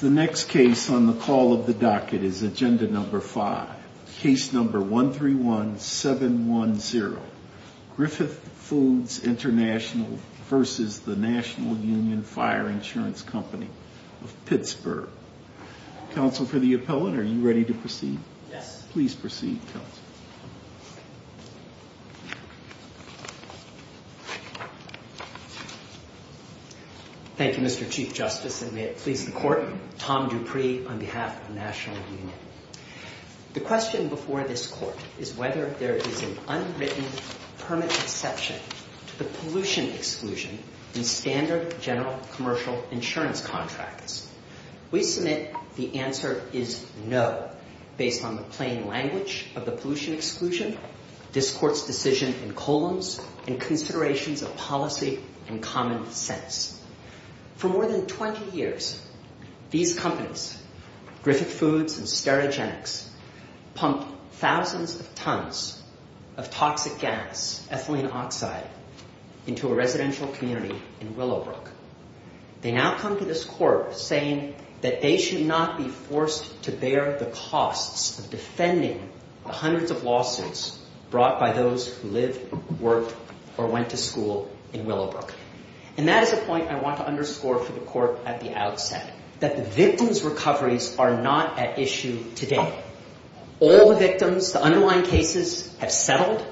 The next case on the call of the docket is Agenda No. 5, Case No. 131710, Griffith Foods International v. National Union Fire Insurance Company of Pittsburgh. Counsel for the Appellant, are you ready to proceed? Yes. Please proceed, Counsel. Thank you, Mr. Chief Justice, and may it please the Court, Tom Dupree on behalf of the National Union. The question before this Court is whether there is an unwritten permit exception to the pollution exclusion in standard general commercial insurance contracts. We submit the answer is no, based on the plain language of the pollution exclusion, this Court's decision in columns, and considerations of policy and common sense. For more than 20 years, these companies, Griffith Foods and Sterigenics, pumped thousands of tons of toxic gas, ethylene oxide, into a residential community in Willowbrook. They now come to this Court saying that they should not be forced to bear the costs of defending the hundreds of lawsuits brought by those who lived, worked, or went to school in Willowbrook. And that is a point I want to underscore for the Court at the outset, that the victims' recoveries are not at issue today. All the victims, the underlying cases have settled.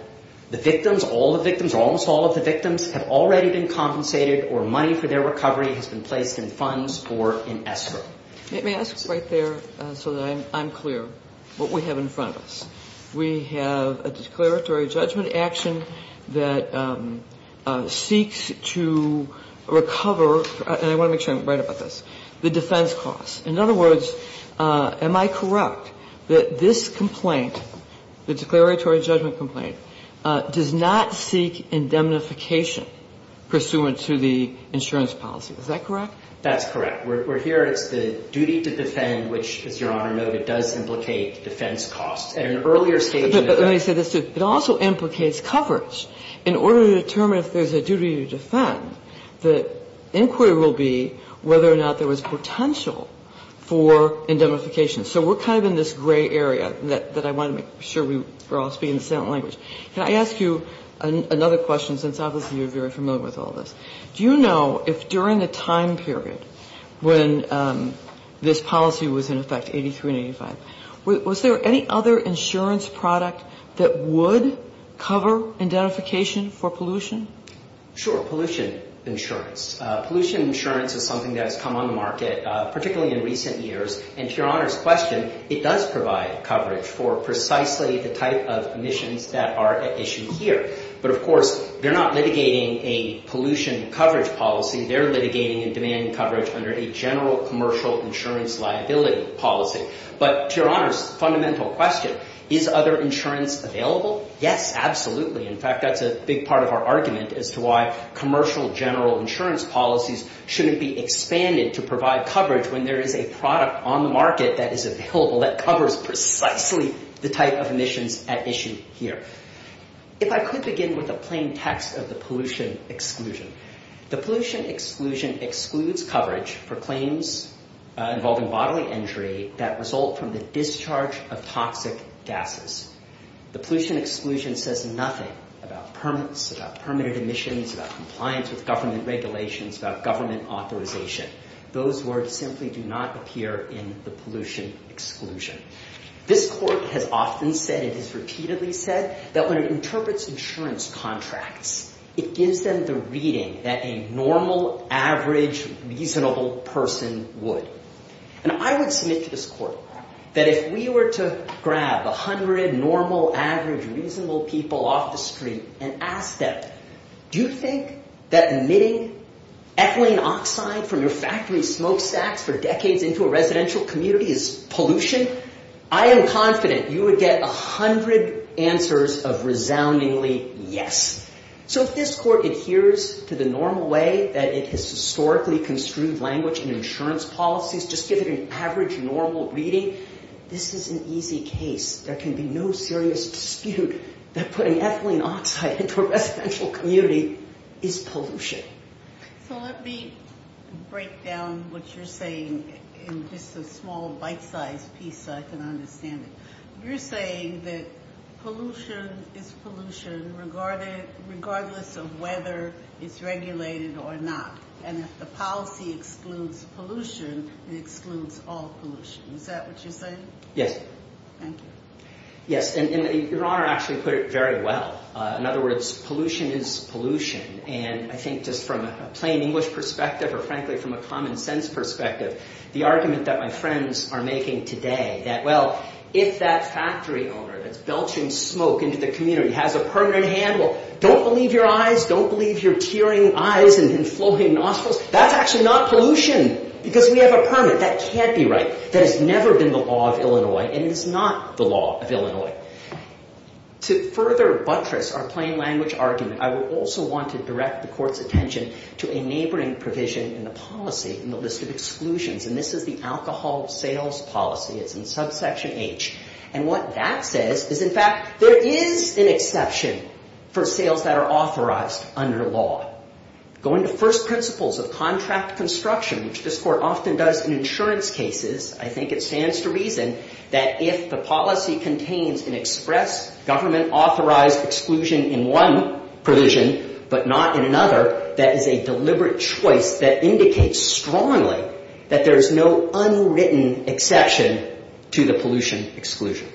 The victims, all the victims or almost all of the victims, have already been compensated or money for their recovery has been placed in funds for an escrow. May I ask right there, so that I'm clear, what we have in front of us? We have a declaratory judgment action that seeks to recover, and I want to make sure I'm right about this, the defense costs. In other words, am I correct that this complaint, the declaratory judgment complaint, does not seek indemnification pursuant to the insurance policy? Is that correct? That's correct. We're here. It's the duty to defend, which, as Your Honor noted, does implicate defense costs. At an earlier stage in the case. But let me say this, too. It also implicates coverage. In order to determine if there's a duty to defend, the inquiry will be whether or not there was potential for indemnification. So we're kind of in this gray area that I want to make sure we're all speaking the same language. Can I ask you another question, since obviously you're very familiar with all this? Do you know if during the time period when this policy was in effect, 83 and 85, was there any other insurance product that would cover indemnification for pollution? Sure. Pollution insurance. Pollution insurance is something that has come on the market, particularly in recent years. And to Your Honor's question, it does provide coverage for precisely the type of emissions that are at issue here. But, of course, they're not litigating a pollution coverage policy. They're litigating and demanding coverage under a general commercial insurance liability policy. But, to Your Honor's fundamental question, is other insurance available? Yes, absolutely. In fact, that's a big part of our argument as to why commercial general insurance policies shouldn't be expanded to provide coverage when there is a product on the market that is available that covers precisely the type of emissions at issue here. If I could begin with a plain text of the pollution exclusion. The pollution exclusion excludes coverage for claims involving bodily injury that result from the discharge of toxic gases. The pollution exclusion says nothing about permits, about permitted emissions, about compliance with government regulations, about government authorization. Those words simply do not appear in the pollution exclusion. This court has often said, it has repeatedly said, that when it interprets insurance contracts, it gives them the reading that a normal, average, reasonable person would. And I would submit to this court that if we were to grab a hundred normal, average, reasonable people off the street and ask them, do you think that emitting ethylene oxide from your factory smokestacks for decades into a residential community is pollution? I am confident you would get a hundred answers of resoundingly yes. So if this court adheres to the normal way that it has historically construed language in insurance policies, just give it an average, normal reading, this is an easy case. There can be no serious dispute that putting ethylene oxide into a residential community is pollution. So let me break down what you're saying in just a small, bite-sized piece so I can understand it. You're saying that pollution is pollution regardless of whether it's regulated or not. And if the policy excludes pollution, it excludes all pollution. Is that what you're saying? Yes. Thank you. Yes. And Your Honor actually put it very well. In other words, pollution is pollution. And I think just from a plain English perspective or frankly from a common sense perspective, the argument that my friends are making today that, well, if that factory owner that's belching smoke into the community has a permit in hand, well, don't believe your eyes. Don't believe your tearing eyes and flowing nostrils. That's actually not pollution because we have a permit. That can't be right. That has never been the law of Illinois and it is not the law of Illinois. To further buttress our plain language argument, I would also want to direct the Court's attention to a neighboring provision in the policy in the list of exclusions. And this is the alcohol sales policy. It's in subsection H. And what that says is, in fact, there is an exception for sales that are authorized under law. Going to first principles of contract construction, which this Court often does in insurance cases, I think it stands to reason that if the policy contains an express government-authorized exclusion in one provision but not in another, that is a deliberate choice that indicates strongly that there is no unwritten exception to the pollution exclusion.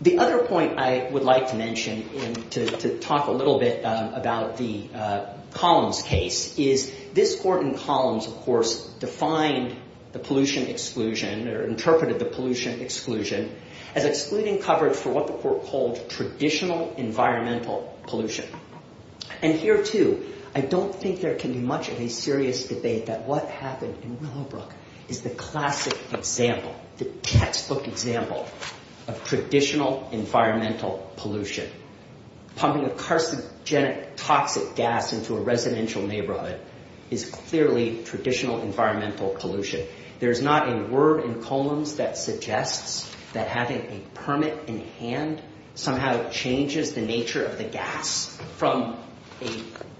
The other point I would like to mention to talk a little bit about the Columns case is this Court in Columns, of course, defined the pollution exclusion or interpreted the pollution exclusion as excluding coverage for what the Court called traditional environmental pollution. And here, too, I don't think there can be much of a serious debate that what happened in Willowbrook is the classic example, the textbook example of traditional environmental pollution. Pumping a carcinogenic toxic gas into a residential neighborhood is clearly traditional environmental pollution. There's not a word in Columns that suggests that having a permit in hand somehow changes the nature of the gas from a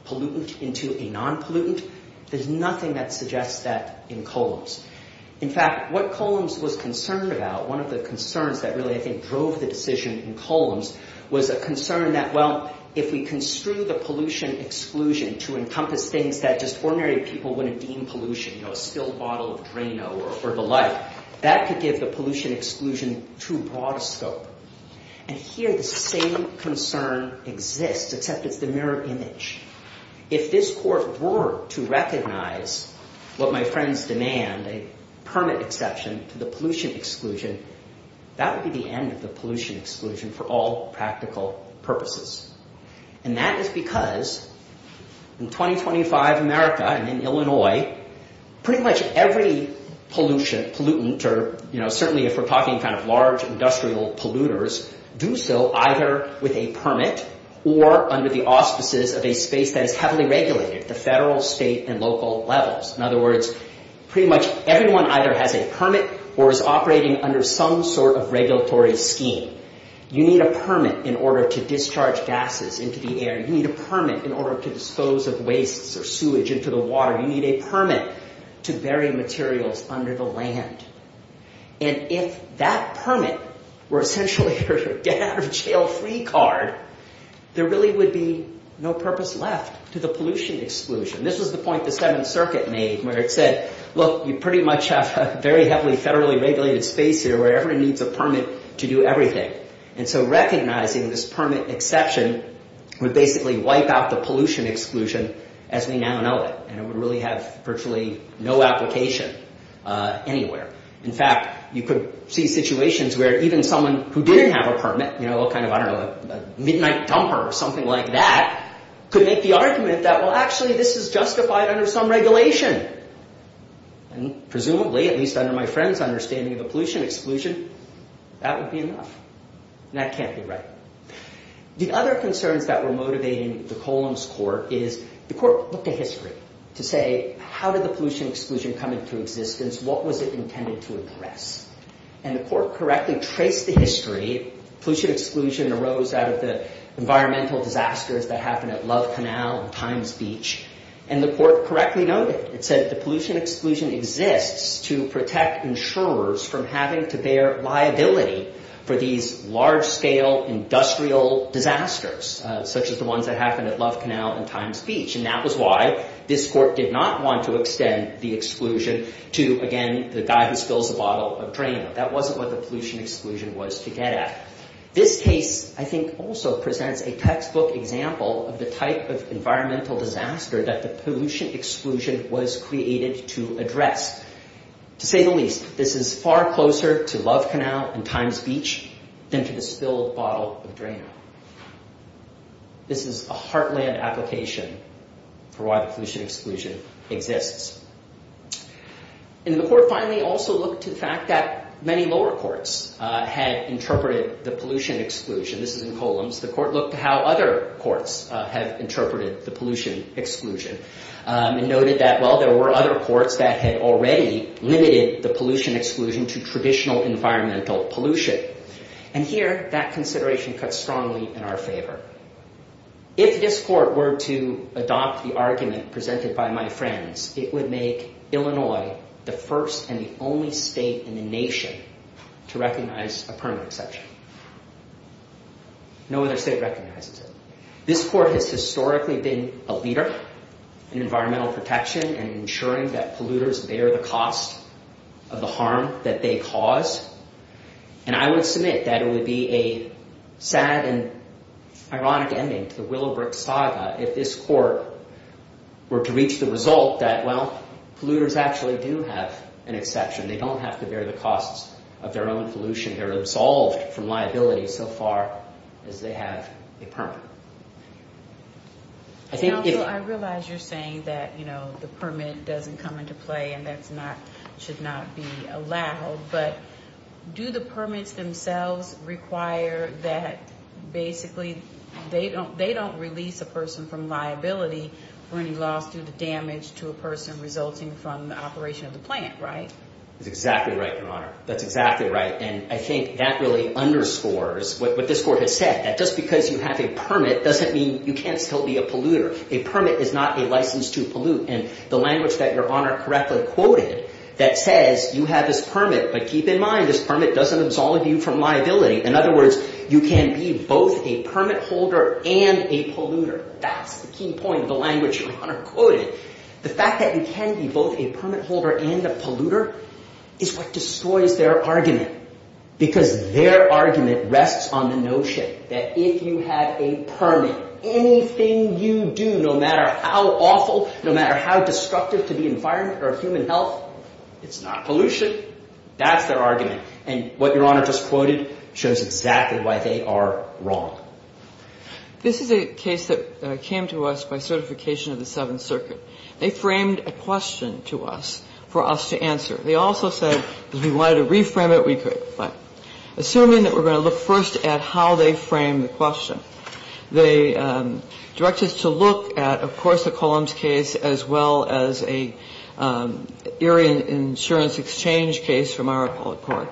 pollutant into a non-pollutant. There's nothing that suggests that in Columns. In fact, what Columns was concerned about, one of the concerns that really, I think, drove the decision in Columns was a concern that, well, if we construe the pollution exclusion to encompass things that just ordinary people wouldn't deem pollution, you know, a spilled bottle of Drano or the like, that could give the pollution exclusion too broad a scope. And here, the same concern exists, except it's the mirror image. If this Court were to recognize what my friends demand, a permit exception to the pollution exclusion, that would be the end of the pollution exclusion for all practical purposes. And that is because in 2025 America and in Illinois, pretty much every pollutant or, you know, certainly if we're talking kind of large industrial polluters, do so either with a permit or under the auspices of a space that is heavily regulated at the federal, state, and local levels. In other words, pretty much everyone either has a permit or is operating under some sort of regulatory scheme. You need a permit in order to discharge gases into the air. You need a permit in order to dispose of wastes or sewage into the water. You need a permit to bury materials under the land. And if that permit were essentially your get-out-of-jail-free card, there really would be no purpose left to the pollution exclusion. This was the point the Seventh Circuit made where it said, look, you pretty much have a very heavily federally regulated space here where everyone needs a permit to do everything. And so recognizing this permit exception would basically wipe out the pollution exclusion as we now know it. And it would really have virtually no application anywhere. In fact, you could see situations where even someone who didn't have a permit, you know, kind of, I don't know, a midnight dumper or something like that, could make the argument that, well, actually, this is justified under some regulation. And presumably, at least under my friend's understanding of the pollution exclusion, that would be enough. And that can't be right. The other concerns that were motivating the Columns Court is the court looked at history to say, how did the pollution exclusion come into existence? What was it intended to address? And the court correctly traced the history. Pollution exclusion arose out of the environmental disasters that happened at Love Canal and Times Beach. And the court correctly noted. It said the pollution exclusion exists to protect insurers from having to bear liability for these large-scale industrial disasters, such as the ones that happened at Love Canal and Times Beach. And that was why this court did not want to extend the exclusion to, again, the guy who spills a bottle of drain. That wasn't what the pollution exclusion was to get at. This case, I think, also presents a textbook example of the type of environmental disaster that the pollution exclusion was created to address. To say the least, this is far closer to Love Canal and Times Beach than to the spilled bottle of drain. This is a heartland application for why the pollution exclusion exists. And the court finally also looked to the fact that many lower courts had interpreted the pollution exclusion. This is in Columns. The court looked to how other courts have interpreted the pollution exclusion and noted that, well, there were other courts that had already limited the pollution exclusion to traditional environmental pollution. And here, that consideration cuts strongly in our favor. If this court were to adopt the argument presented by my friends, it would make Illinois the first and the only state in the nation to recognize a permanent exception. No other state recognizes it. This court has historically been a leader in environmental protection and ensuring that polluters bear the cost of the harm that they cause. And I would submit that it would be a sad and ironic ending to the Willowbrook saga if this court were to reach the result that, well, polluters actually do have an exception. They don't have to bear the costs of their own pollution. They're absolved from liability so far as they have a permit. And also, I realize you're saying that the permit doesn't come into play and that it should not be allowed. But do the permits themselves require that basically they don't release a person from liability for any loss due to damage to a person resulting from the operation of the plant, right? That's exactly right, Your Honor. That's exactly right. And I think that really underscores what this court has said, that just because you have a permit doesn't mean you can't still be a polluter. A permit is not a license to pollute. And the language that Your Honor correctly quoted that says you have this permit, but keep in mind this permit doesn't absolve you from liability. In other words, you can be both a permit holder and a polluter. That's the key point of the language Your Honor quoted. The fact that you can be both a permit holder and a polluter is what destroys their argument. Because their argument rests on the notion that if you have a permit, anything you do, no matter how awful, no matter how destructive to the environment or human health, it's not pollution. That's their argument. And what Your Honor just quoted shows exactly why they are wrong. This is a case that came to us by certification of the Seventh Circuit. They framed a question to us for us to answer. They also said if we wanted to reframe it, we could. But assuming that we're going to look first at how they framed the question, they directed us to look at, of course, the Columns case as well as an Erie Insurance Exchange case from our public court,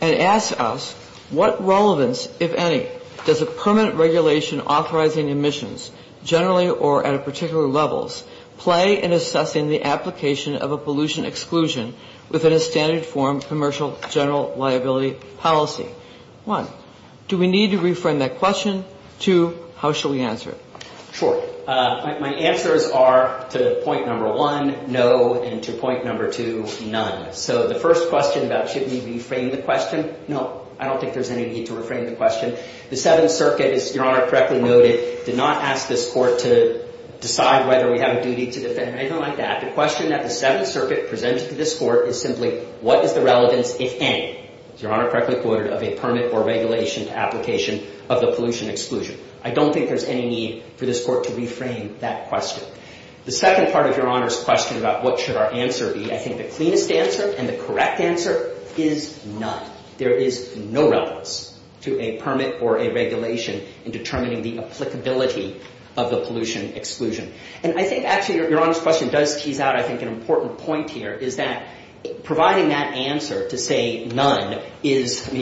and asked us what relevance, if any, does a permanent regulation authorizing emissions, generally or at a particular level, play in assessing the application of a pollution exclusion within a standard form commercial general liability policy? One, do we need to reframe that question? Two, how should we answer it? Sure. My answers are to point number one, no, and to point number two, none. So the first question about should we reframe the question, no, I don't think there's any need to reframe the question. The Seventh Circuit, as Your Honor correctly noted, did not ask this court to decide whether we have a duty to defend or anything like that. The question that the Seventh Circuit presented to this court is simply what is the relevance, if any, as Your Honor correctly quoted, of a permit or regulation application of the pollution exclusion? I don't think there's any need for this court to reframe that question. The second part of Your Honor's question about what should our answer be, I think the cleanest answer and the correct answer is none. There is no relevance to a permit or a regulation in determining the applicability of the pollution exclusion. And I think, actually, Your Honor's question does tease out, I think, an important point here is that providing that answer to say none is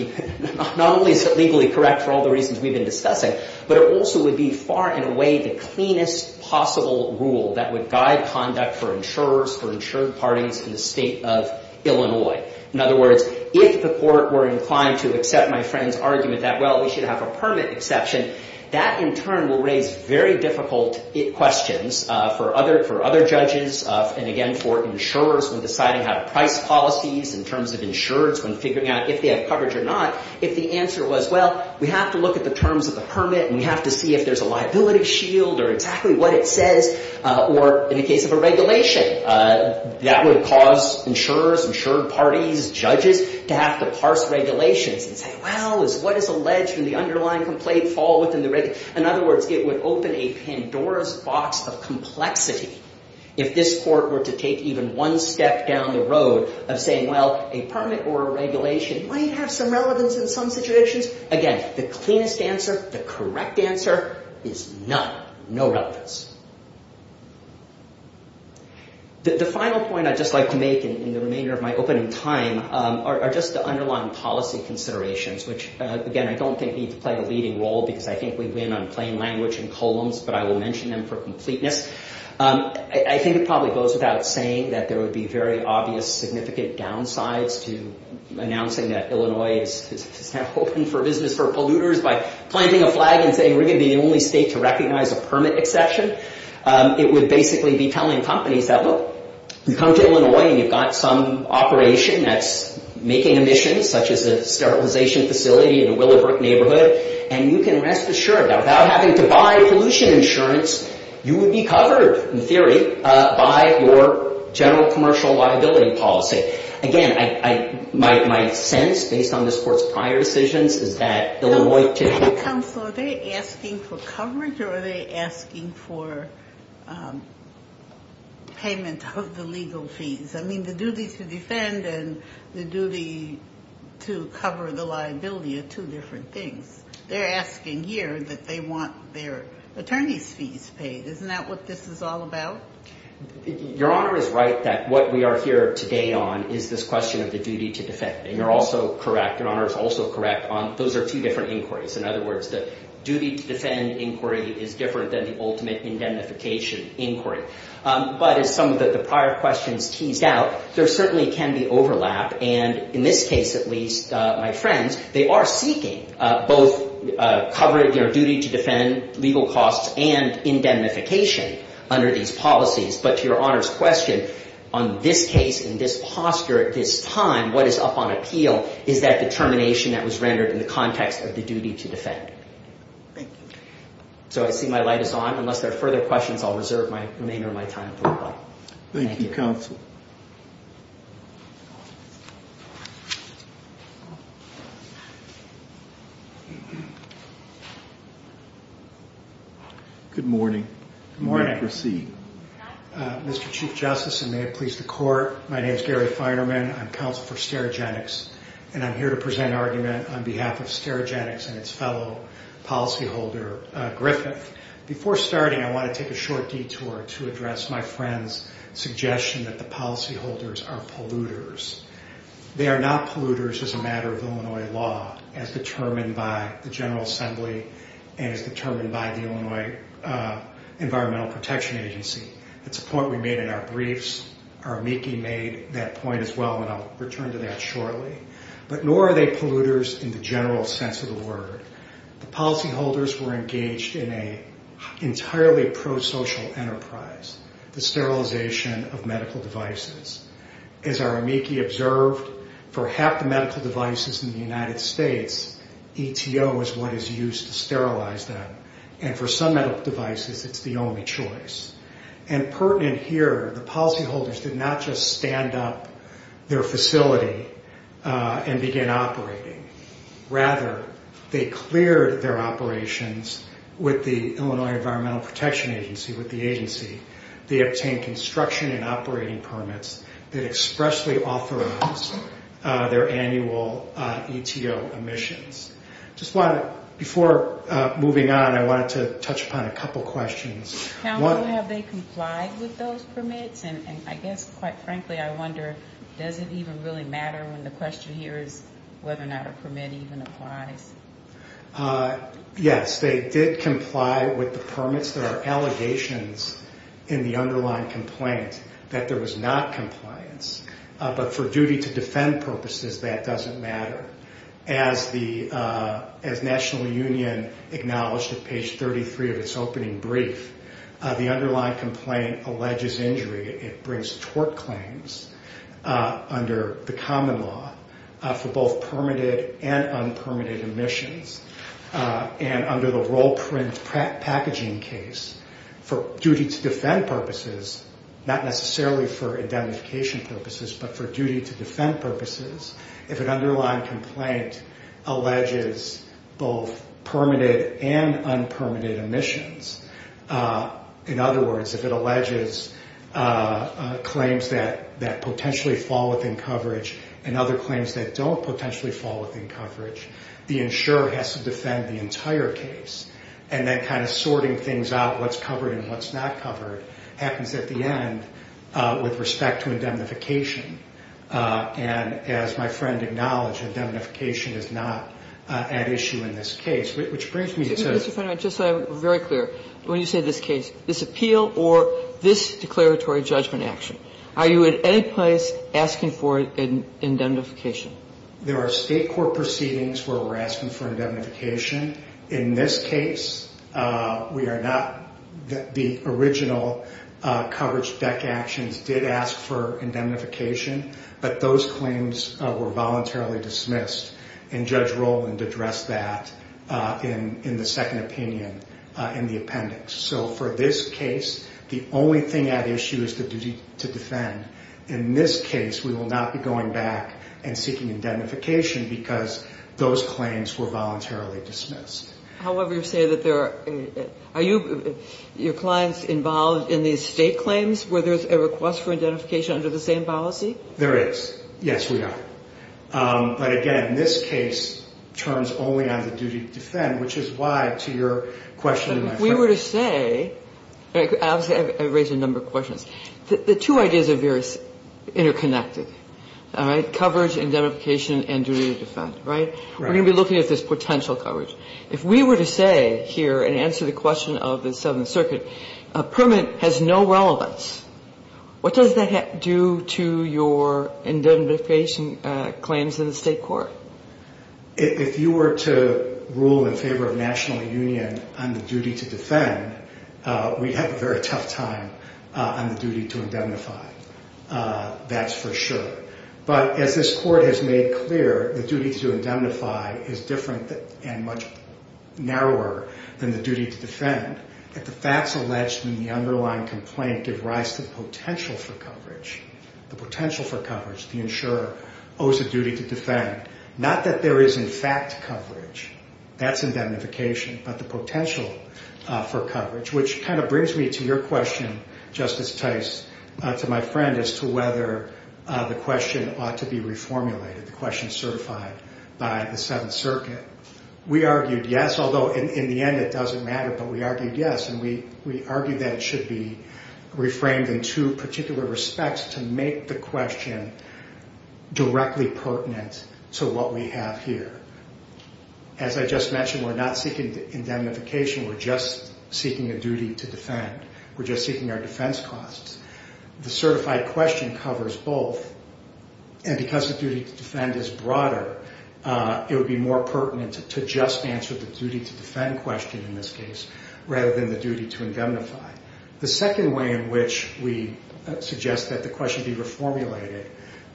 not only legally correct for all the reasons we've been discussing, but it also would be far and away the cleanest possible rule that would guide conduct for insurers, for insured parties in the State of Illinois. In other words, if the court were inclined to accept my friend's argument that, well, we should have a permit exception, that in turn will raise very difficult questions for other judges and, again, for insurers when deciding how to price policies, in terms of insurers when figuring out if they have coverage or not, if the answer was, well, we have to look at the terms of the permit and we have to see if there's a liability shield or exactly what it says, or in the case of a regulation, that would cause insurers, insured parties, judges to have to parse regulations and say, well, what is alleged from the underlying complaint fall within the regulation? In other words, it would open a Pandora's box of complexity if this court were to take even one step down the road of saying, well, a permit or a regulation might have some relevance in some situations. Again, the cleanest answer, the correct answer is none, no relevance. The final point I'd just like to make in the remainder of my opening time are just the underlying policy considerations, which, again, I don't think need to play a leading role because I think we win on plain language and columns, but I will mention them for completeness. I think it probably goes without saying that there would be very obvious significant downsides to announcing that Illinois is open for business for polluters by planting a flag and saying we're going to be the only state to recognize a permit exception. It would basically be telling companies that, look, you come to Illinois and you've got some operation that's making emissions, such as a sterilization facility in the Willowbrook neighborhood, and you can rest assured that without having to buy pollution insurance, you would be covered, in theory, by your general commercial liability policy. Again, my sense, based on this court's prior decisions, is that Illinois typically — Are they asking for payment of the legal fees? I mean, the duty to defend and the duty to cover the liability are two different things. They're asking here that they want their attorney's fees paid. Isn't that what this is all about? Your Honor is right that what we are here today on is this question of the duty to defend. And you're also correct, and Honor is also correct, those are two different inquiries. In other words, the duty to defend inquiry is different than the ultimate indemnification inquiry. But as some of the prior questions teased out, there certainly can be overlap. And in this case, at least, my friends, they are seeking both covering their duty to defend legal costs and indemnification under these policies. But to Your Honor's question, on this case, in this posture, at this time, what is up on appeal is that determination that was rendered in the context of the duty to defend. Thank you. So I see my light is on. Unless there are further questions, I'll reserve the remainder of my time to reply. Thank you, counsel. Good morning. Good morning. Mr. Chief Justice, and may it please the court, my name is Gary Feinerman. I'm counsel for Sterigenics, and I'm here to present argument on behalf of Sterigenics and its fellow policyholder, Griffith. Before starting, I want to take a short detour to address my friend's suggestion that the policyholders are polluters. They are not polluters as a matter of Illinois law as determined by the General Assembly and as determined by the Illinois Environmental Protection Agency. That's a point we made in our briefs. Our amici made that point as well, and I'll return to that shortly. But nor are they polluters in the general sense of the word. The policyholders were engaged in an entirely prosocial enterprise, the sterilization of medical devices. As our amici observed, for half the medical devices in the United States, ETO is what is used to sterilize them. And for some medical devices, it's the only choice. And pertinent here, the policyholders did not just stand up their facility and begin operating. Rather, they cleared their operations with the Illinois Environmental Protection Agency, with the agency. They obtained construction and operating permits that expressly authorize their annual ETO emissions. Before moving on, I wanted to touch upon a couple questions. Have they complied with those permits? And I guess, quite frankly, I wonder, does it even really matter when the question here is whether or not a permit even applies? Yes, they did comply with the permits. There are allegations in the underlying complaint that there was not compliance. But for duty to defend purposes, that doesn't matter. As the National Union acknowledged at page 33 of its opening brief, the underlying complaint alleges injury. It brings tort claims under the common law for both permitted and unpermitted emissions. And under the role print packaging case, for duty to defend purposes, not necessarily for identification purposes, but for duty to defend purposes, if an underlying complaint alleges both permitted and unpermitted emissions, in other words, if it alleges claims that potentially fall within coverage and other claims that don't potentially fall within coverage, the insurer has to defend the entire case. And then kind of sorting things out, what's covered and what's not covered, happens at the end with respect to indemnification. And as my friend acknowledged, indemnification is not at issue in this case, which brings me to the next question. Mr. Fenner, just so I'm very clear, when you say this case, this appeal or this declaratory judgment action, are you at any place asking for indemnification? There are state court proceedings where we're asking for indemnification. In this case, we are not. The original coverage deck actions did ask for indemnification, but those claims were voluntarily dismissed. And Judge Rowland addressed that in the second opinion in the appendix. So for this case, the only thing at issue is the duty to defend. In this case, we will not be going back and seeking indemnification because those claims were voluntarily dismissed. However, you say that there are ñ are you ñ your clients involved in these state claims where there's a request for indemnification under the same policy? There is. Yes, we are. But, again, this case turns only on the duty to defend, which is why, to your question, my friend ñ interconnected, all right? Coverage, indemnification, and duty to defend, right? Right. We're going to be looking at this potential coverage. If we were to say here, and answer the question of the Seventh Circuit, a permit has no relevance, what does that do to your indemnification claims in the state court? If you were to rule in favor of national union on the duty to defend, we'd have a very tough time on the duty to indemnify. That's for sure. But as this court has made clear, the duty to indemnify is different and much narrower than the duty to defend. If the facts alleged in the underlying complaint give rise to the potential for coverage, the potential for coverage, the insurer owes a duty to defend. Not that there is, in fact, coverage. That's indemnification. But the potential for coverage, which kind of brings me to your question, Justice Tice, to my friend, as to whether the question ought to be reformulated, the question certified by the Seventh Circuit. We argued yes, although in the end it doesn't matter. We argued that it should be reframed in two particular respects to make the question directly pertinent to what we have here. As I just mentioned, we're not seeking indemnification. We're just seeking a duty to defend. We're just seeking our defense costs. The certified question covers both, and because the duty to defend is broader, it would be more pertinent to just answer the duty to defend question in this case rather than the duty to indemnify. The second way in which we suggest that the question be reformulated,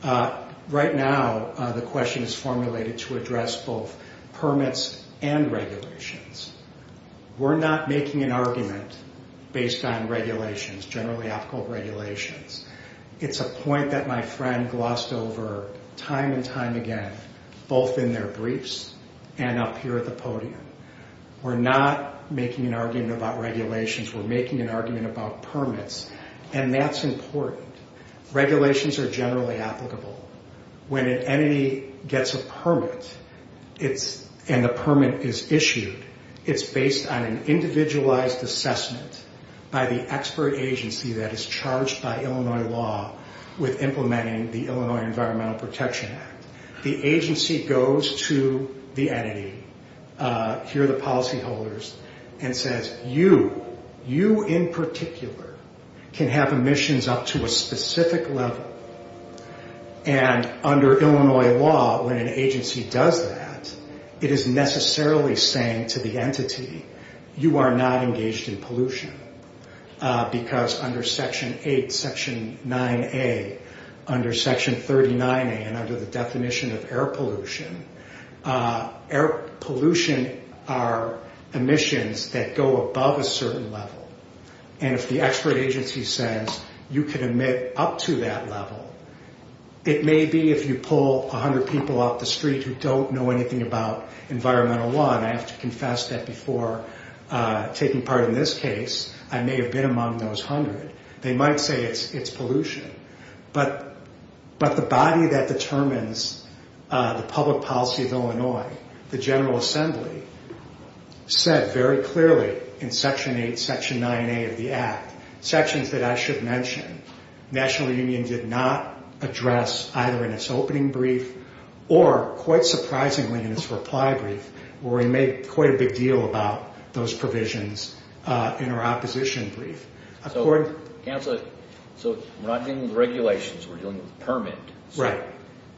right now the question is formulated to address both permits and regulations. We're not making an argument based on regulations, generally applicable regulations. It's a point that my friend glossed over time and time again, both in their briefs and up here at the podium. We're not making an argument about regulations. We're making an argument about permits, and that's important. Regulations are generally applicable. When an entity gets a permit and the permit is issued, it's based on an individualized assessment by the expert agency that is charged by Illinois law with implementing the Illinois Environmental Protection Act. The agency goes to the entity, here the policyholders, and says, you, you in particular, can have emissions up to a specific level, and under Illinois law, when an agency does that, it is necessarily saying to the entity, you are not engaged in pollution because under Section 8, Section 9A, under Section 39A and under the definition of air pollution, air pollution are emissions that go above a certain level, and if the expert agency says you can emit up to that level, it may be if you pull 100 people off the street who don't know anything about environmental law, and I have to confess that before taking part in this case, I may have been among those 100. They might say it's pollution, but the body that determines the public policy of Illinois, the General Assembly, said very clearly in Section 8, Section 9A of the Act, sections that I should mention, National Union did not address either in its opening brief or quite surprisingly in its reply brief where we made quite a big deal about those provisions in our opposition brief. So we're not dealing with regulations, we're dealing with permits. Right.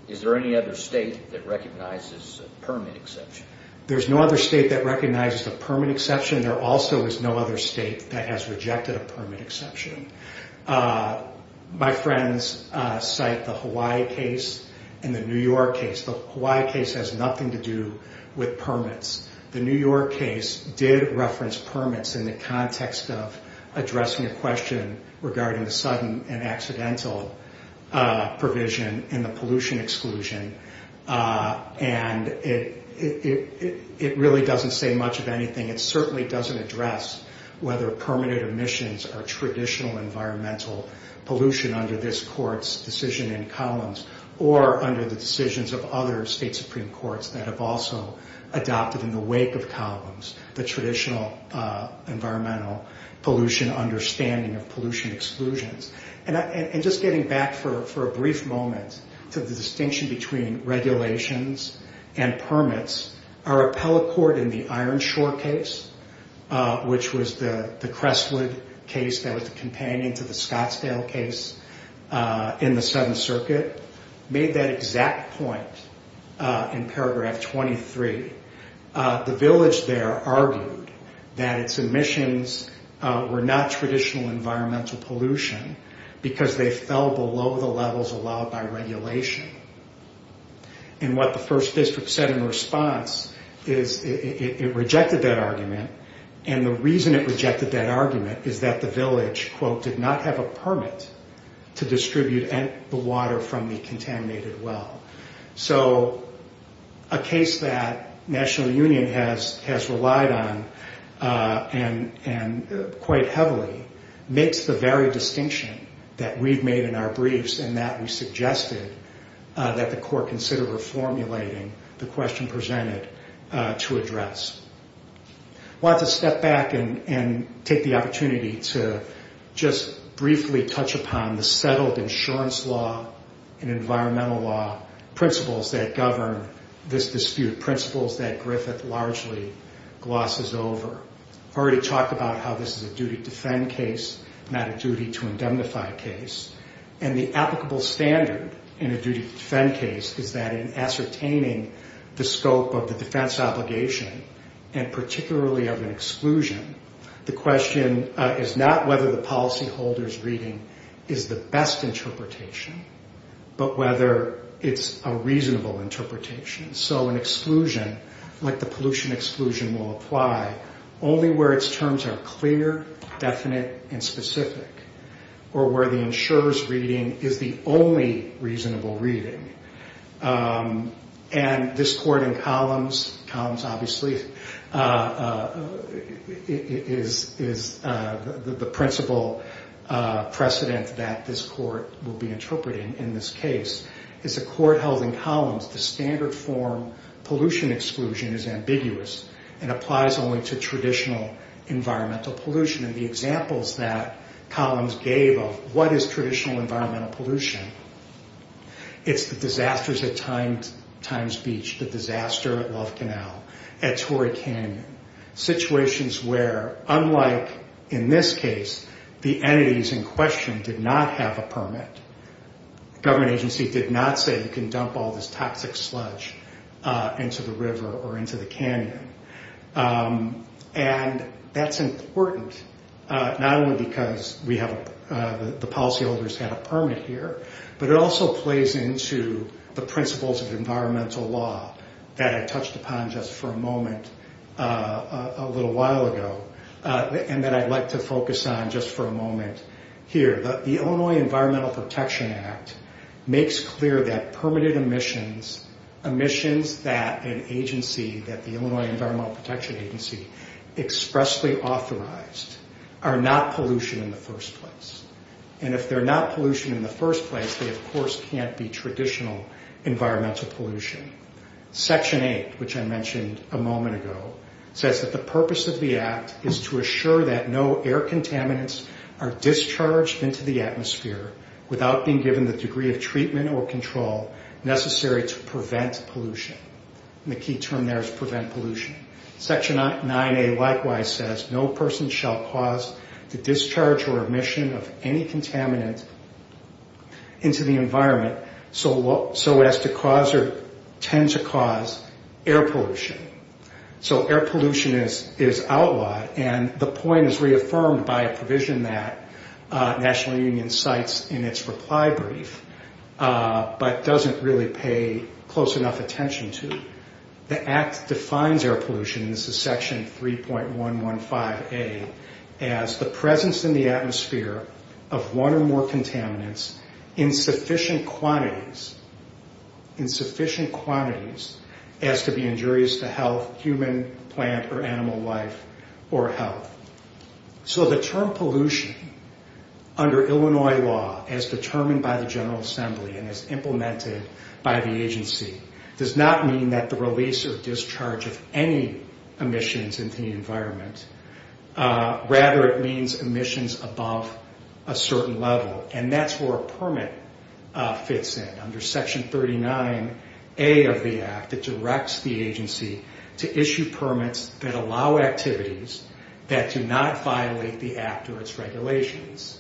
Is there any other state that recognizes a permit exception? There's no other state that recognizes a permit exception. There also is no other state that has rejected a permit exception. My friends cite the Hawaii case and the New York case. The Hawaii case has nothing to do with permits. The New York case did reference permits in the context of addressing a question regarding the sudden and accidental provision in the pollution exclusion, and it really doesn't say much of anything. It certainly doesn't address whether permanent emissions are traditional environmental pollution under this court's decision in commons or under the decisions of other state supreme courts that have also adopted in the wake of commons the traditional environmental pollution understanding of pollution exclusions. And just getting back for a brief moment to the distinction between regulations and permits, our appellate court in the Ironshore case, which was the Crestwood case that was the companion to the Scottsdale case in the Seventh Circuit, made that exact point in paragraph 23. The village there argued that its emissions were not traditional environmental pollution because they fell below the levels allowed by regulation. And what the first district said in response is it rejected that argument, and the reason it rejected that argument is that the village, quote, did not have a permit to distribute the water from the contaminated well. So a case that National Union has relied on quite heavily makes the very distinction that we've made in our briefs and that we suggested that the court consider reformulating the question presented to address. I want to step back and take the opportunity to just briefly touch upon the settled insurance law and environmental law principles that govern this dispute, principles that Griffith largely glosses over. I've already talked about how this is a duty to defend case, not a duty to indemnify case, and the applicable standard in a duty to defend case is that in ascertaining the scope of the defense obligation, and particularly of an exclusion, the question is not whether the policyholder's reading is the best interpretation, but whether it's a reasonable interpretation. So an exclusion, like the pollution exclusion, will apply only where its terms are clear, definite, and specific, or where the insurer's reading is the only reasonable reading. And this court in Columns, Columns obviously is the principal precedent that this court will be interpreting in this case. As a court held in Columns, the standard form pollution exclusion is ambiguous and applies only to traditional environmental pollution. And the examples that Columns gave of what is traditional environmental pollution, it's the disasters at Times Beach, the disaster at Love Canal, at Torrey Canyon, situations where, unlike in this case, the entities in question did not have a permit. The government agency did not say you can dump all this toxic sludge into the river or into the canyon. And that's important, not only because the policyholders had a permit here, but it also plays into the principles of environmental law that I touched upon just for a moment a little while ago, and that I'd like to focus on just for a moment here. The Illinois Environmental Protection Act makes clear that permitted emissions, emissions that an agency, that the Illinois Environmental Protection Agency expressly authorized, are not pollution in the first place. And if they're not pollution in the first place, they, of course, can't be traditional environmental pollution. Section 8, which I mentioned a moment ago, says that the purpose of the act is to assure that no air contaminants are discharged into the atmosphere without being given the degree of treatment or control necessary to prevent pollution. And the key term there is prevent pollution. Section 9A likewise says no person shall cause the discharge or emission of any contaminant into the environment so as to cause or tend to cause air pollution. So air pollution is outlawed, and the point is reaffirmed by a provision that National Union cites in its reply brief, but doesn't really pay close enough attention to. The act defines air pollution, and this is Section 3.115A, as the presence in the atmosphere of one or more contaminants in sufficient quantities, in sufficient quantities, as to be injurious to health, human, plant, or animal life, or health. So the term pollution, under Illinois law, as determined by the General Assembly and as implemented by the agency, does not mean that the release or discharge of any emissions into the environment. Rather, it means emissions above a certain level, and that's where a permit fits in. Under Section 39A of the act, it directs the agency to issue permits that allow activities that do not violate the act or its regulations.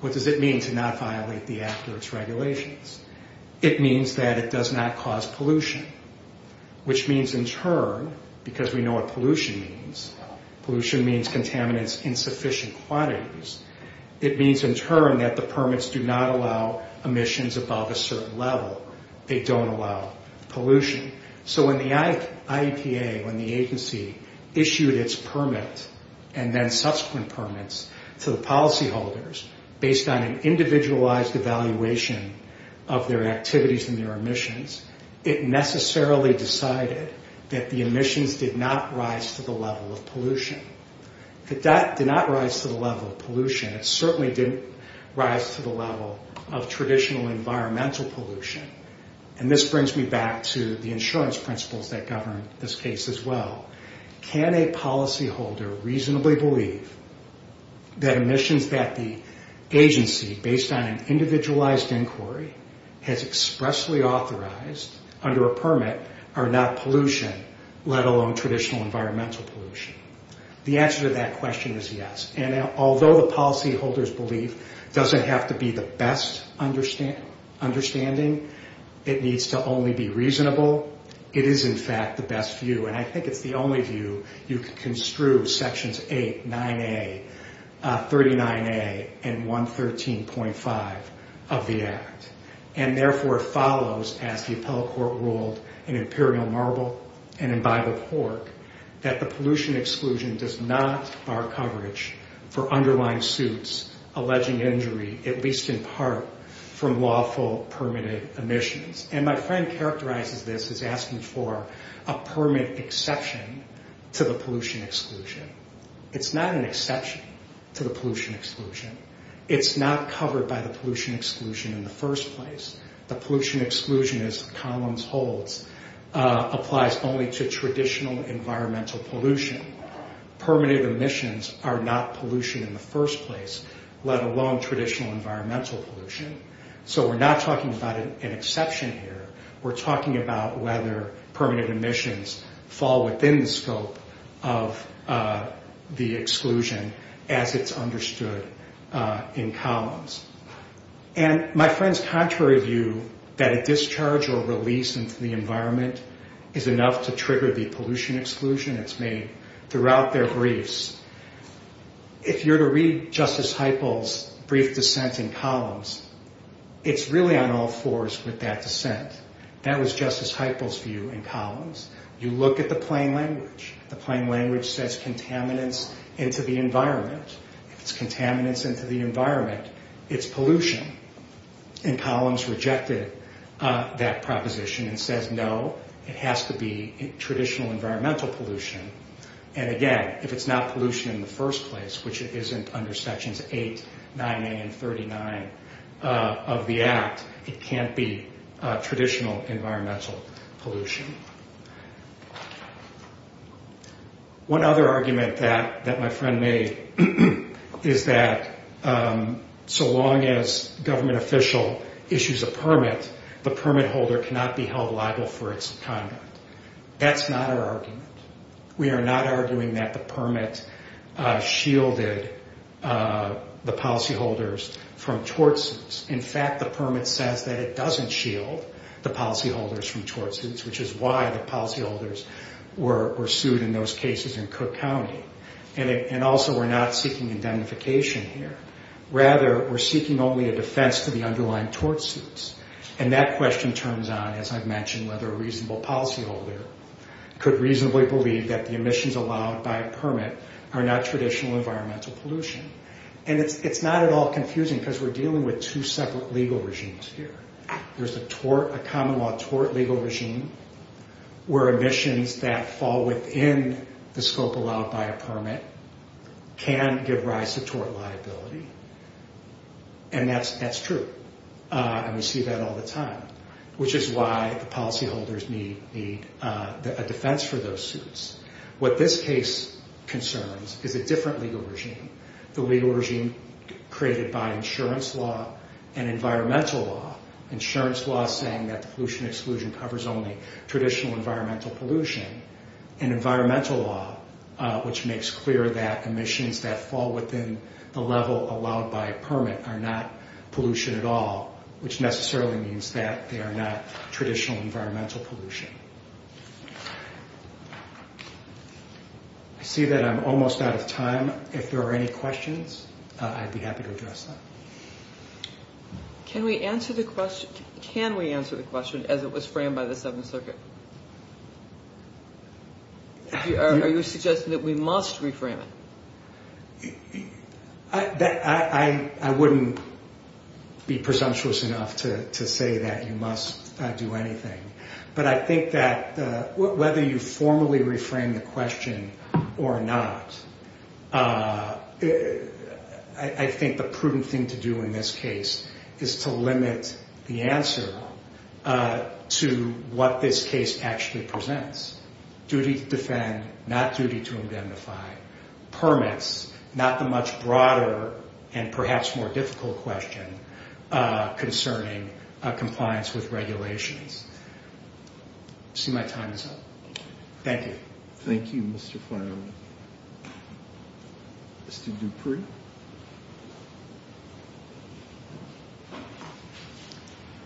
What does it mean to not violate the act or its regulations? It means that it does not cause pollution, which means in turn, because we know what pollution means, pollution means contaminants in sufficient quantities. It means in turn that the permits do not allow emissions above a certain level. They don't allow pollution. So when the IEPA, when the agency issued its permit, and then subsequent permits to the policyholders, based on an individualized evaluation of their activities and their emissions, it necessarily decided that the emissions did not rise to the level of pollution. It did not rise to the level of pollution. It certainly didn't rise to the level of traditional environmental pollution, and this brings me back to the insurance principles that govern this case as well. Can a policyholder reasonably believe that emissions that the agency, based on an individualized inquiry, has expressly authorized under a permit are not pollution, let alone traditional environmental pollution? The answer to that question is yes, and although the policyholders believe it doesn't have to be the best understanding, it needs to only be reasonable, it is in fact the best view, and I think it's the only view you can construe sections 8, 9A, 39A, and 113.5 of the act, and therefore follows, as the appellate court ruled in Imperial Marble and in Bible of Hork, that the pollution exclusion does not bar coverage for underlying suits, alleging injury, at least in part, from lawful permitted emissions, and my friend characterizes this as asking for a permit exception to the pollution exclusion. It's not an exception to the pollution exclusion. It's not covered by the pollution exclusion in the first place. The pollution exclusion, as the columns hold, applies only to traditional environmental pollution. Permanent emissions are not pollution in the first place, let alone traditional environmental pollution, so we're not talking about an exception here. We're talking about whether permanent emissions fall within the scope of the exclusion as it's understood in columns, and my friend's contrary view that a discharge or release into the environment is enough to trigger the pollution exclusion that's made throughout their briefs, if you're to read Justice Heiple's brief dissent in columns, it's really on all fours with that dissent. That was Justice Heiple's view in columns. You look at the plain language. The plain language says contaminants into the environment. If it's contaminants into the environment, it's pollution, and columns rejected that proposition and says, no, it has to be traditional environmental pollution, and again, if it's not pollution in the first place, which it isn't under sections 8, 9A, and 39 of the Act, it can't be traditional environmental pollution. One other argument that my friend made is that so long as government official issues a permit, the permit holder cannot be held liable for its conduct. That's not our argument. We are not arguing that the permit shielded the policyholders from tort suits. In fact, the permit says that it doesn't shield the policyholders from tort suits, which is why the policyholders were sued in those cases in Cook County, and also we're not seeking indemnification here. Rather, we're seeking only a defense to the underlying tort suits, and that question turns on, as I've mentioned, whether a reasonable policyholder could reasonably believe that the emissions allowed by a permit are not traditional environmental pollution, and it's not at all confusing because we're dealing with two separate legal regimes here. There's a common law tort legal regime where emissions that fall within the scope allowed by a permit can give rise to tort liability, and that's true, and we see that all the time, which is why the policyholders need a defense for those suits. What this case concerns is a different legal regime, the legal regime created by insurance law and environmental law. Insurance law is saying that the pollution exclusion covers only traditional environmental pollution, and environmental law, which makes clear that emissions that fall within the level allowed by a permit are not pollution at all, which necessarily means that they are not traditional environmental pollution. I see that I'm almost out of time. If there are any questions, I'd be happy to address them. Can we answer the question as it was framed by the Seventh Circuit? Are you suggesting that we must reframe it? I wouldn't be presumptuous enough to say that you must do anything, but I think that whether you formally reframe the question or not, I think the prudent thing to do in this case is to limit the answer to what this case actually presents. Duty to defend, not duty to indemnify. Permits, not the much broader and perhaps more difficult question concerning compliance with regulations. I see my time is up. Thank you. Thank you, Mr. Farnley. Mr. Dupree?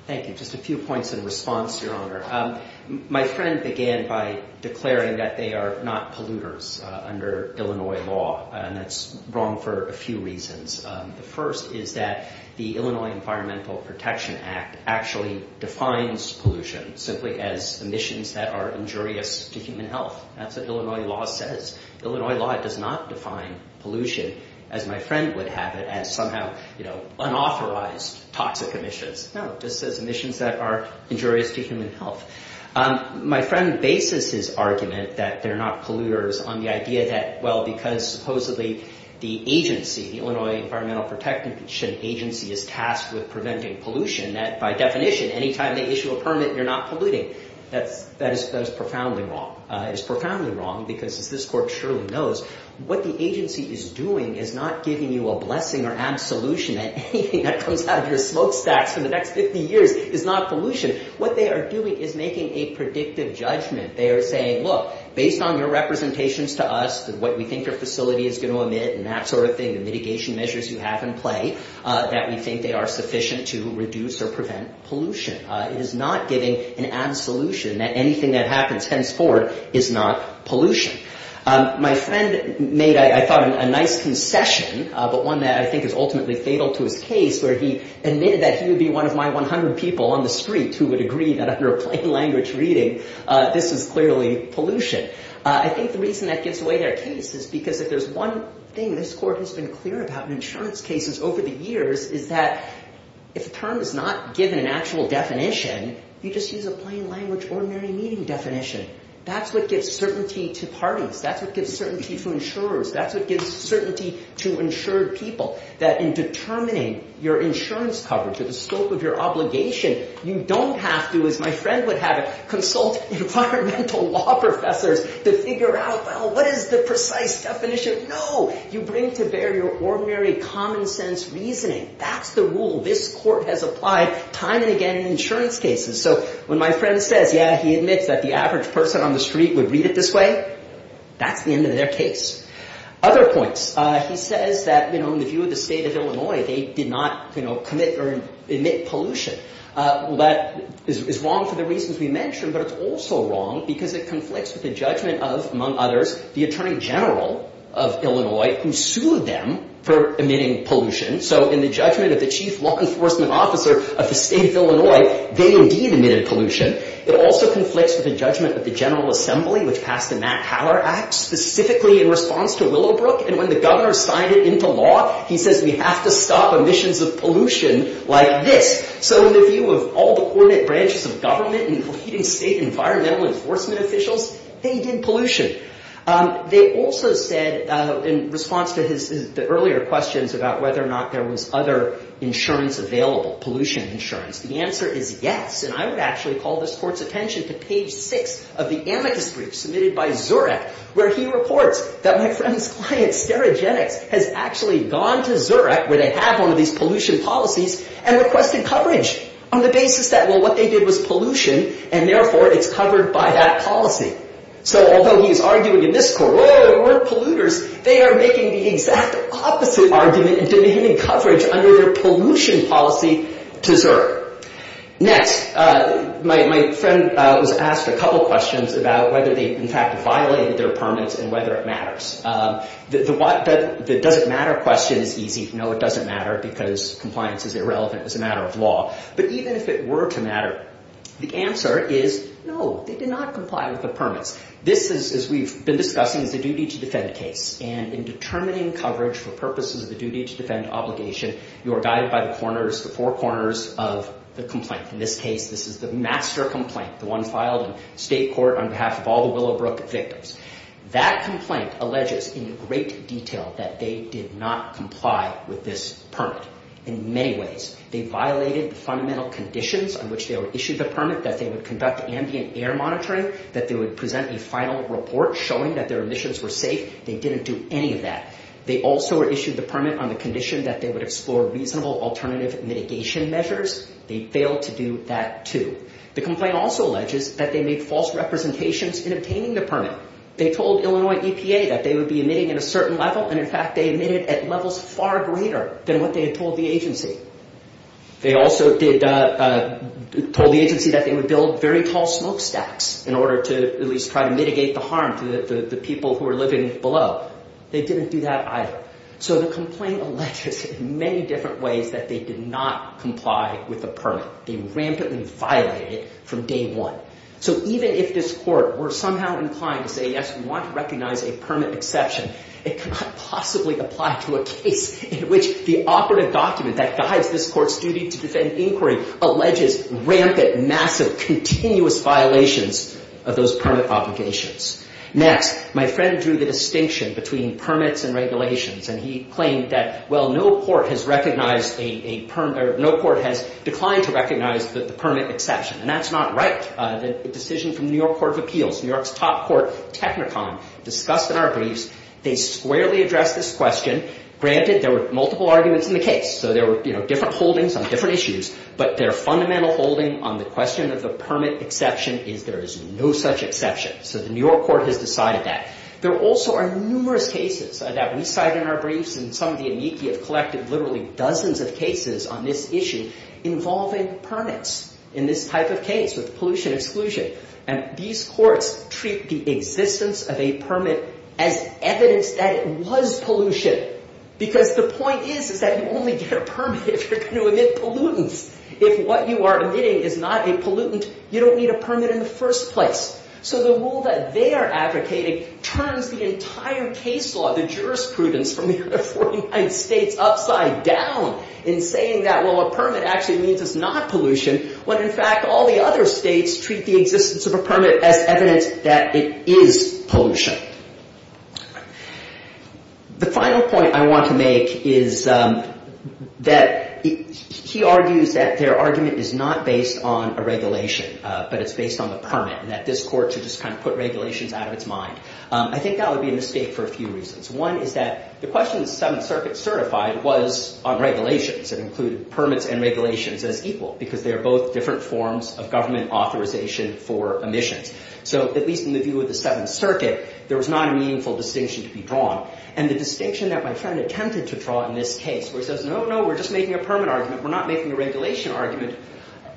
Thank you. Just a few points in response, Your Honor. My friend began by declaring that they are not polluters under Illinois law, and that's wrong for a few reasons. The first is that the Illinois Environmental Protection Act actually defines pollution simply as emissions that are injurious to human health. That's what Illinois law says. Illinois law does not define pollution, as my friend would have it, as somehow unauthorized toxic emissions. No, it just says emissions that are injurious to human health. My friend bases his argument that they're not polluters on the idea that, well, because supposedly the agency, the Illinois Environmental Protection Agency, is tasked with preventing pollution, that by definition, any time they issue a permit, you're not polluting. That is profoundly wrong. It is profoundly wrong because, as this Court surely knows, what the agency is doing is not giving you a blessing or absolution that anything that comes out of your smokestacks for the next 50 years is not pollution. What they are doing is making a predictive judgment. They are saying, look, based on your representations to us, what we think your facility is going to emit and that sort of thing, the mitigation measures you have in play, that we think they are sufficient to reduce or prevent pollution. It is not giving an absolution that anything that happens henceforward is not pollution. My friend made, I thought, a nice concession, but one that I think is ultimately fatal to his case, where he admitted that he would be one of my 100 people on the street who would agree that under a plain language reading this is clearly pollution. I think the reason that gives away their case is because if there's one thing this Court has been clear about in insurance cases over the years is that if a term is not given an actual definition, you just use a plain language, ordinary meaning definition. That's what gives certainty to parties. That's what gives certainty to insurers. That's what gives certainty to insured people, that in determining your insurance coverage or the scope of your obligation, you don't have to, as my friend would have it, consult environmental law professors to figure out, well, what is the precise definition? No, you bring to bear your ordinary common sense reasoning. That's the rule this Court has applied time and again in insurance cases. So when my friend says, yeah, he admits that the average person on the street would read it this way, that's the end of their case. Other points. He says that, you know, in the view of the State of Illinois, they did not, you know, commit or admit pollution. Well, that is wrong for the reasons we mentioned, but it's also wrong because it conflicts with the judgment of, among others, the Attorney General of Illinois, who sued them for admitting pollution. So in the judgment of the chief law enforcement officer of the State of Illinois, they indeed admitted pollution. It also conflicts with the judgment of the General Assembly, which passed the Matt Tower Act specifically in response to Willowbrook, and when the governor signed it into law, he says we have to stop emissions of pollution like this. So in the view of all the coordinate branches of government, including State environmental enforcement officials, they did pollution. They also said, in response to the earlier questions about whether or not there was other insurance available, pollution insurance, the answer is yes. And I would actually call this Court's attention to page 6 of the amicus brief submitted by Zurich, where he reports that my friend's client, Sterigenics, has actually gone to Zurich, where they have one of these pollution policies, and requested coverage on the basis that, well, what they did was pollution, and therefore it's covered by that policy. So although he is arguing in this court, whoa, we're polluters, they are making the exact opposite argument and demanding coverage under their pollution policy to Zurich. Next, my friend was asked a couple questions about whether they, in fact, violated their permits and whether it matters. The does it matter question is easy. No, it doesn't matter because compliance is irrelevant as a matter of law. But even if it were to matter, the answer is no, they did not comply with the permits. This is, as we've been discussing, is a duty to defend case, and in determining coverage for purposes of the duty to defend obligation, you are guided by the corners, the four corners of the complaint. In this case, this is the master complaint, the one filed in state court on behalf of all the Willowbrook victims. That complaint alleges in great detail that they did not comply with this permit in many ways. They violated the fundamental conditions on which they were issued the permit, that they would conduct ambient air monitoring, that they would present a final report showing that their emissions were safe. They didn't do any of that. They also issued the permit on the condition that they would explore reasonable alternative mitigation measures. They failed to do that, too. The complaint also alleges that they made false representations in obtaining the permit. They told Illinois EPA that they would be emitting at a certain level, and, in fact, they emitted at levels far greater than what they had told the agency. They also told the agency that they would build very tall smokestacks in order to at least try to mitigate the harm to the people who were living below. They didn't do that either. So the complaint alleges in many different ways that they did not comply with the permit. They rampantly violated it from day one. So even if this court were somehow inclined to say, yes, we want to recognize a permit exception, it could not possibly apply to a case in which the operative document that guides this court's duty to defend inquiry alleges rampant, massive, continuous violations of those permit obligations. Next, my friend drew the distinction between permits and regulations, and he claimed that, well, no court has recognized a permit or no court has declined to recognize the permit exception, and that's not right. The decision from the New York Court of Appeals, New York's top court, Technicon, discussed in our briefs, they squarely addressed this question. Granted, there were multiple arguments in the case, so there were, you know, different holdings on different issues, but their fundamental holding on the question of the permit exception is there is no such exception. So the New York Court has decided that. There also are numerous cases that we cite in our briefs, and some of the amici have collected literally dozens of cases on this issue involving permits in this type of case with pollution exclusion. And these courts treat the existence of a permit as evidence that it was pollution because the point is is that you only get a permit if you're going to emit pollutants. If what you are emitting is not a pollutant, you don't need a permit in the first place. So the rule that they are advocating turns the entire case law, the jurisprudence from the other 49 states upside down in saying that, well, a permit actually means it's not pollution when, in fact, all the other states treat the existence of a permit as evidence that it is pollution. The final point I want to make is that he argues that their argument is not based on a regulation, but it's based on the permit and that this court should just kind of put regulations out of its mind. I think that would be a mistake for a few reasons. One is that the question the Seventh Circuit certified was on regulations and included permits and regulations as equal because they are both different forms of government authorization for emissions. So at least in the view of the Seventh Circuit, there was not a meaningful distinction to be drawn. And the distinction that my friend attempted to draw in this case where he says, no, no, we're just making a permit argument, we're not making a regulation argument,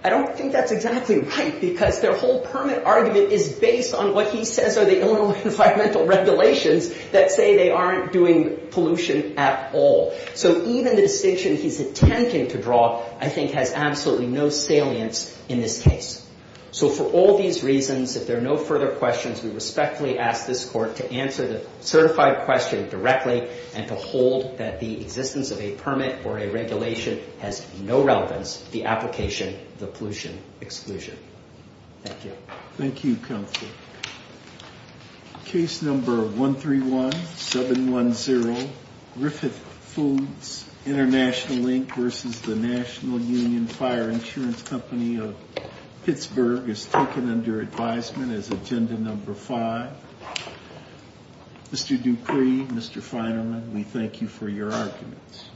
I don't think that's exactly right because their whole permit argument is based on what he says are the Illinois environmental regulations that say they aren't doing pollution at all. So even the distinction he's attempting to draw, I think, has absolutely no salience in this case. So for all these reasons, if there are no further questions, we respectfully ask this court to answer the certified question directly and to hold that the existence of a permit or a regulation has no relevance to the application of the pollution exclusion. Thank you. Thank you, Counselor. Case number 131710, Griffith Foods International, Inc., versus the National Union Fire Insurance Company of Pittsburgh is taken under advisement as agenda number five. Mr. Dupree, Mr. Feinerman, we thank you for your arguments.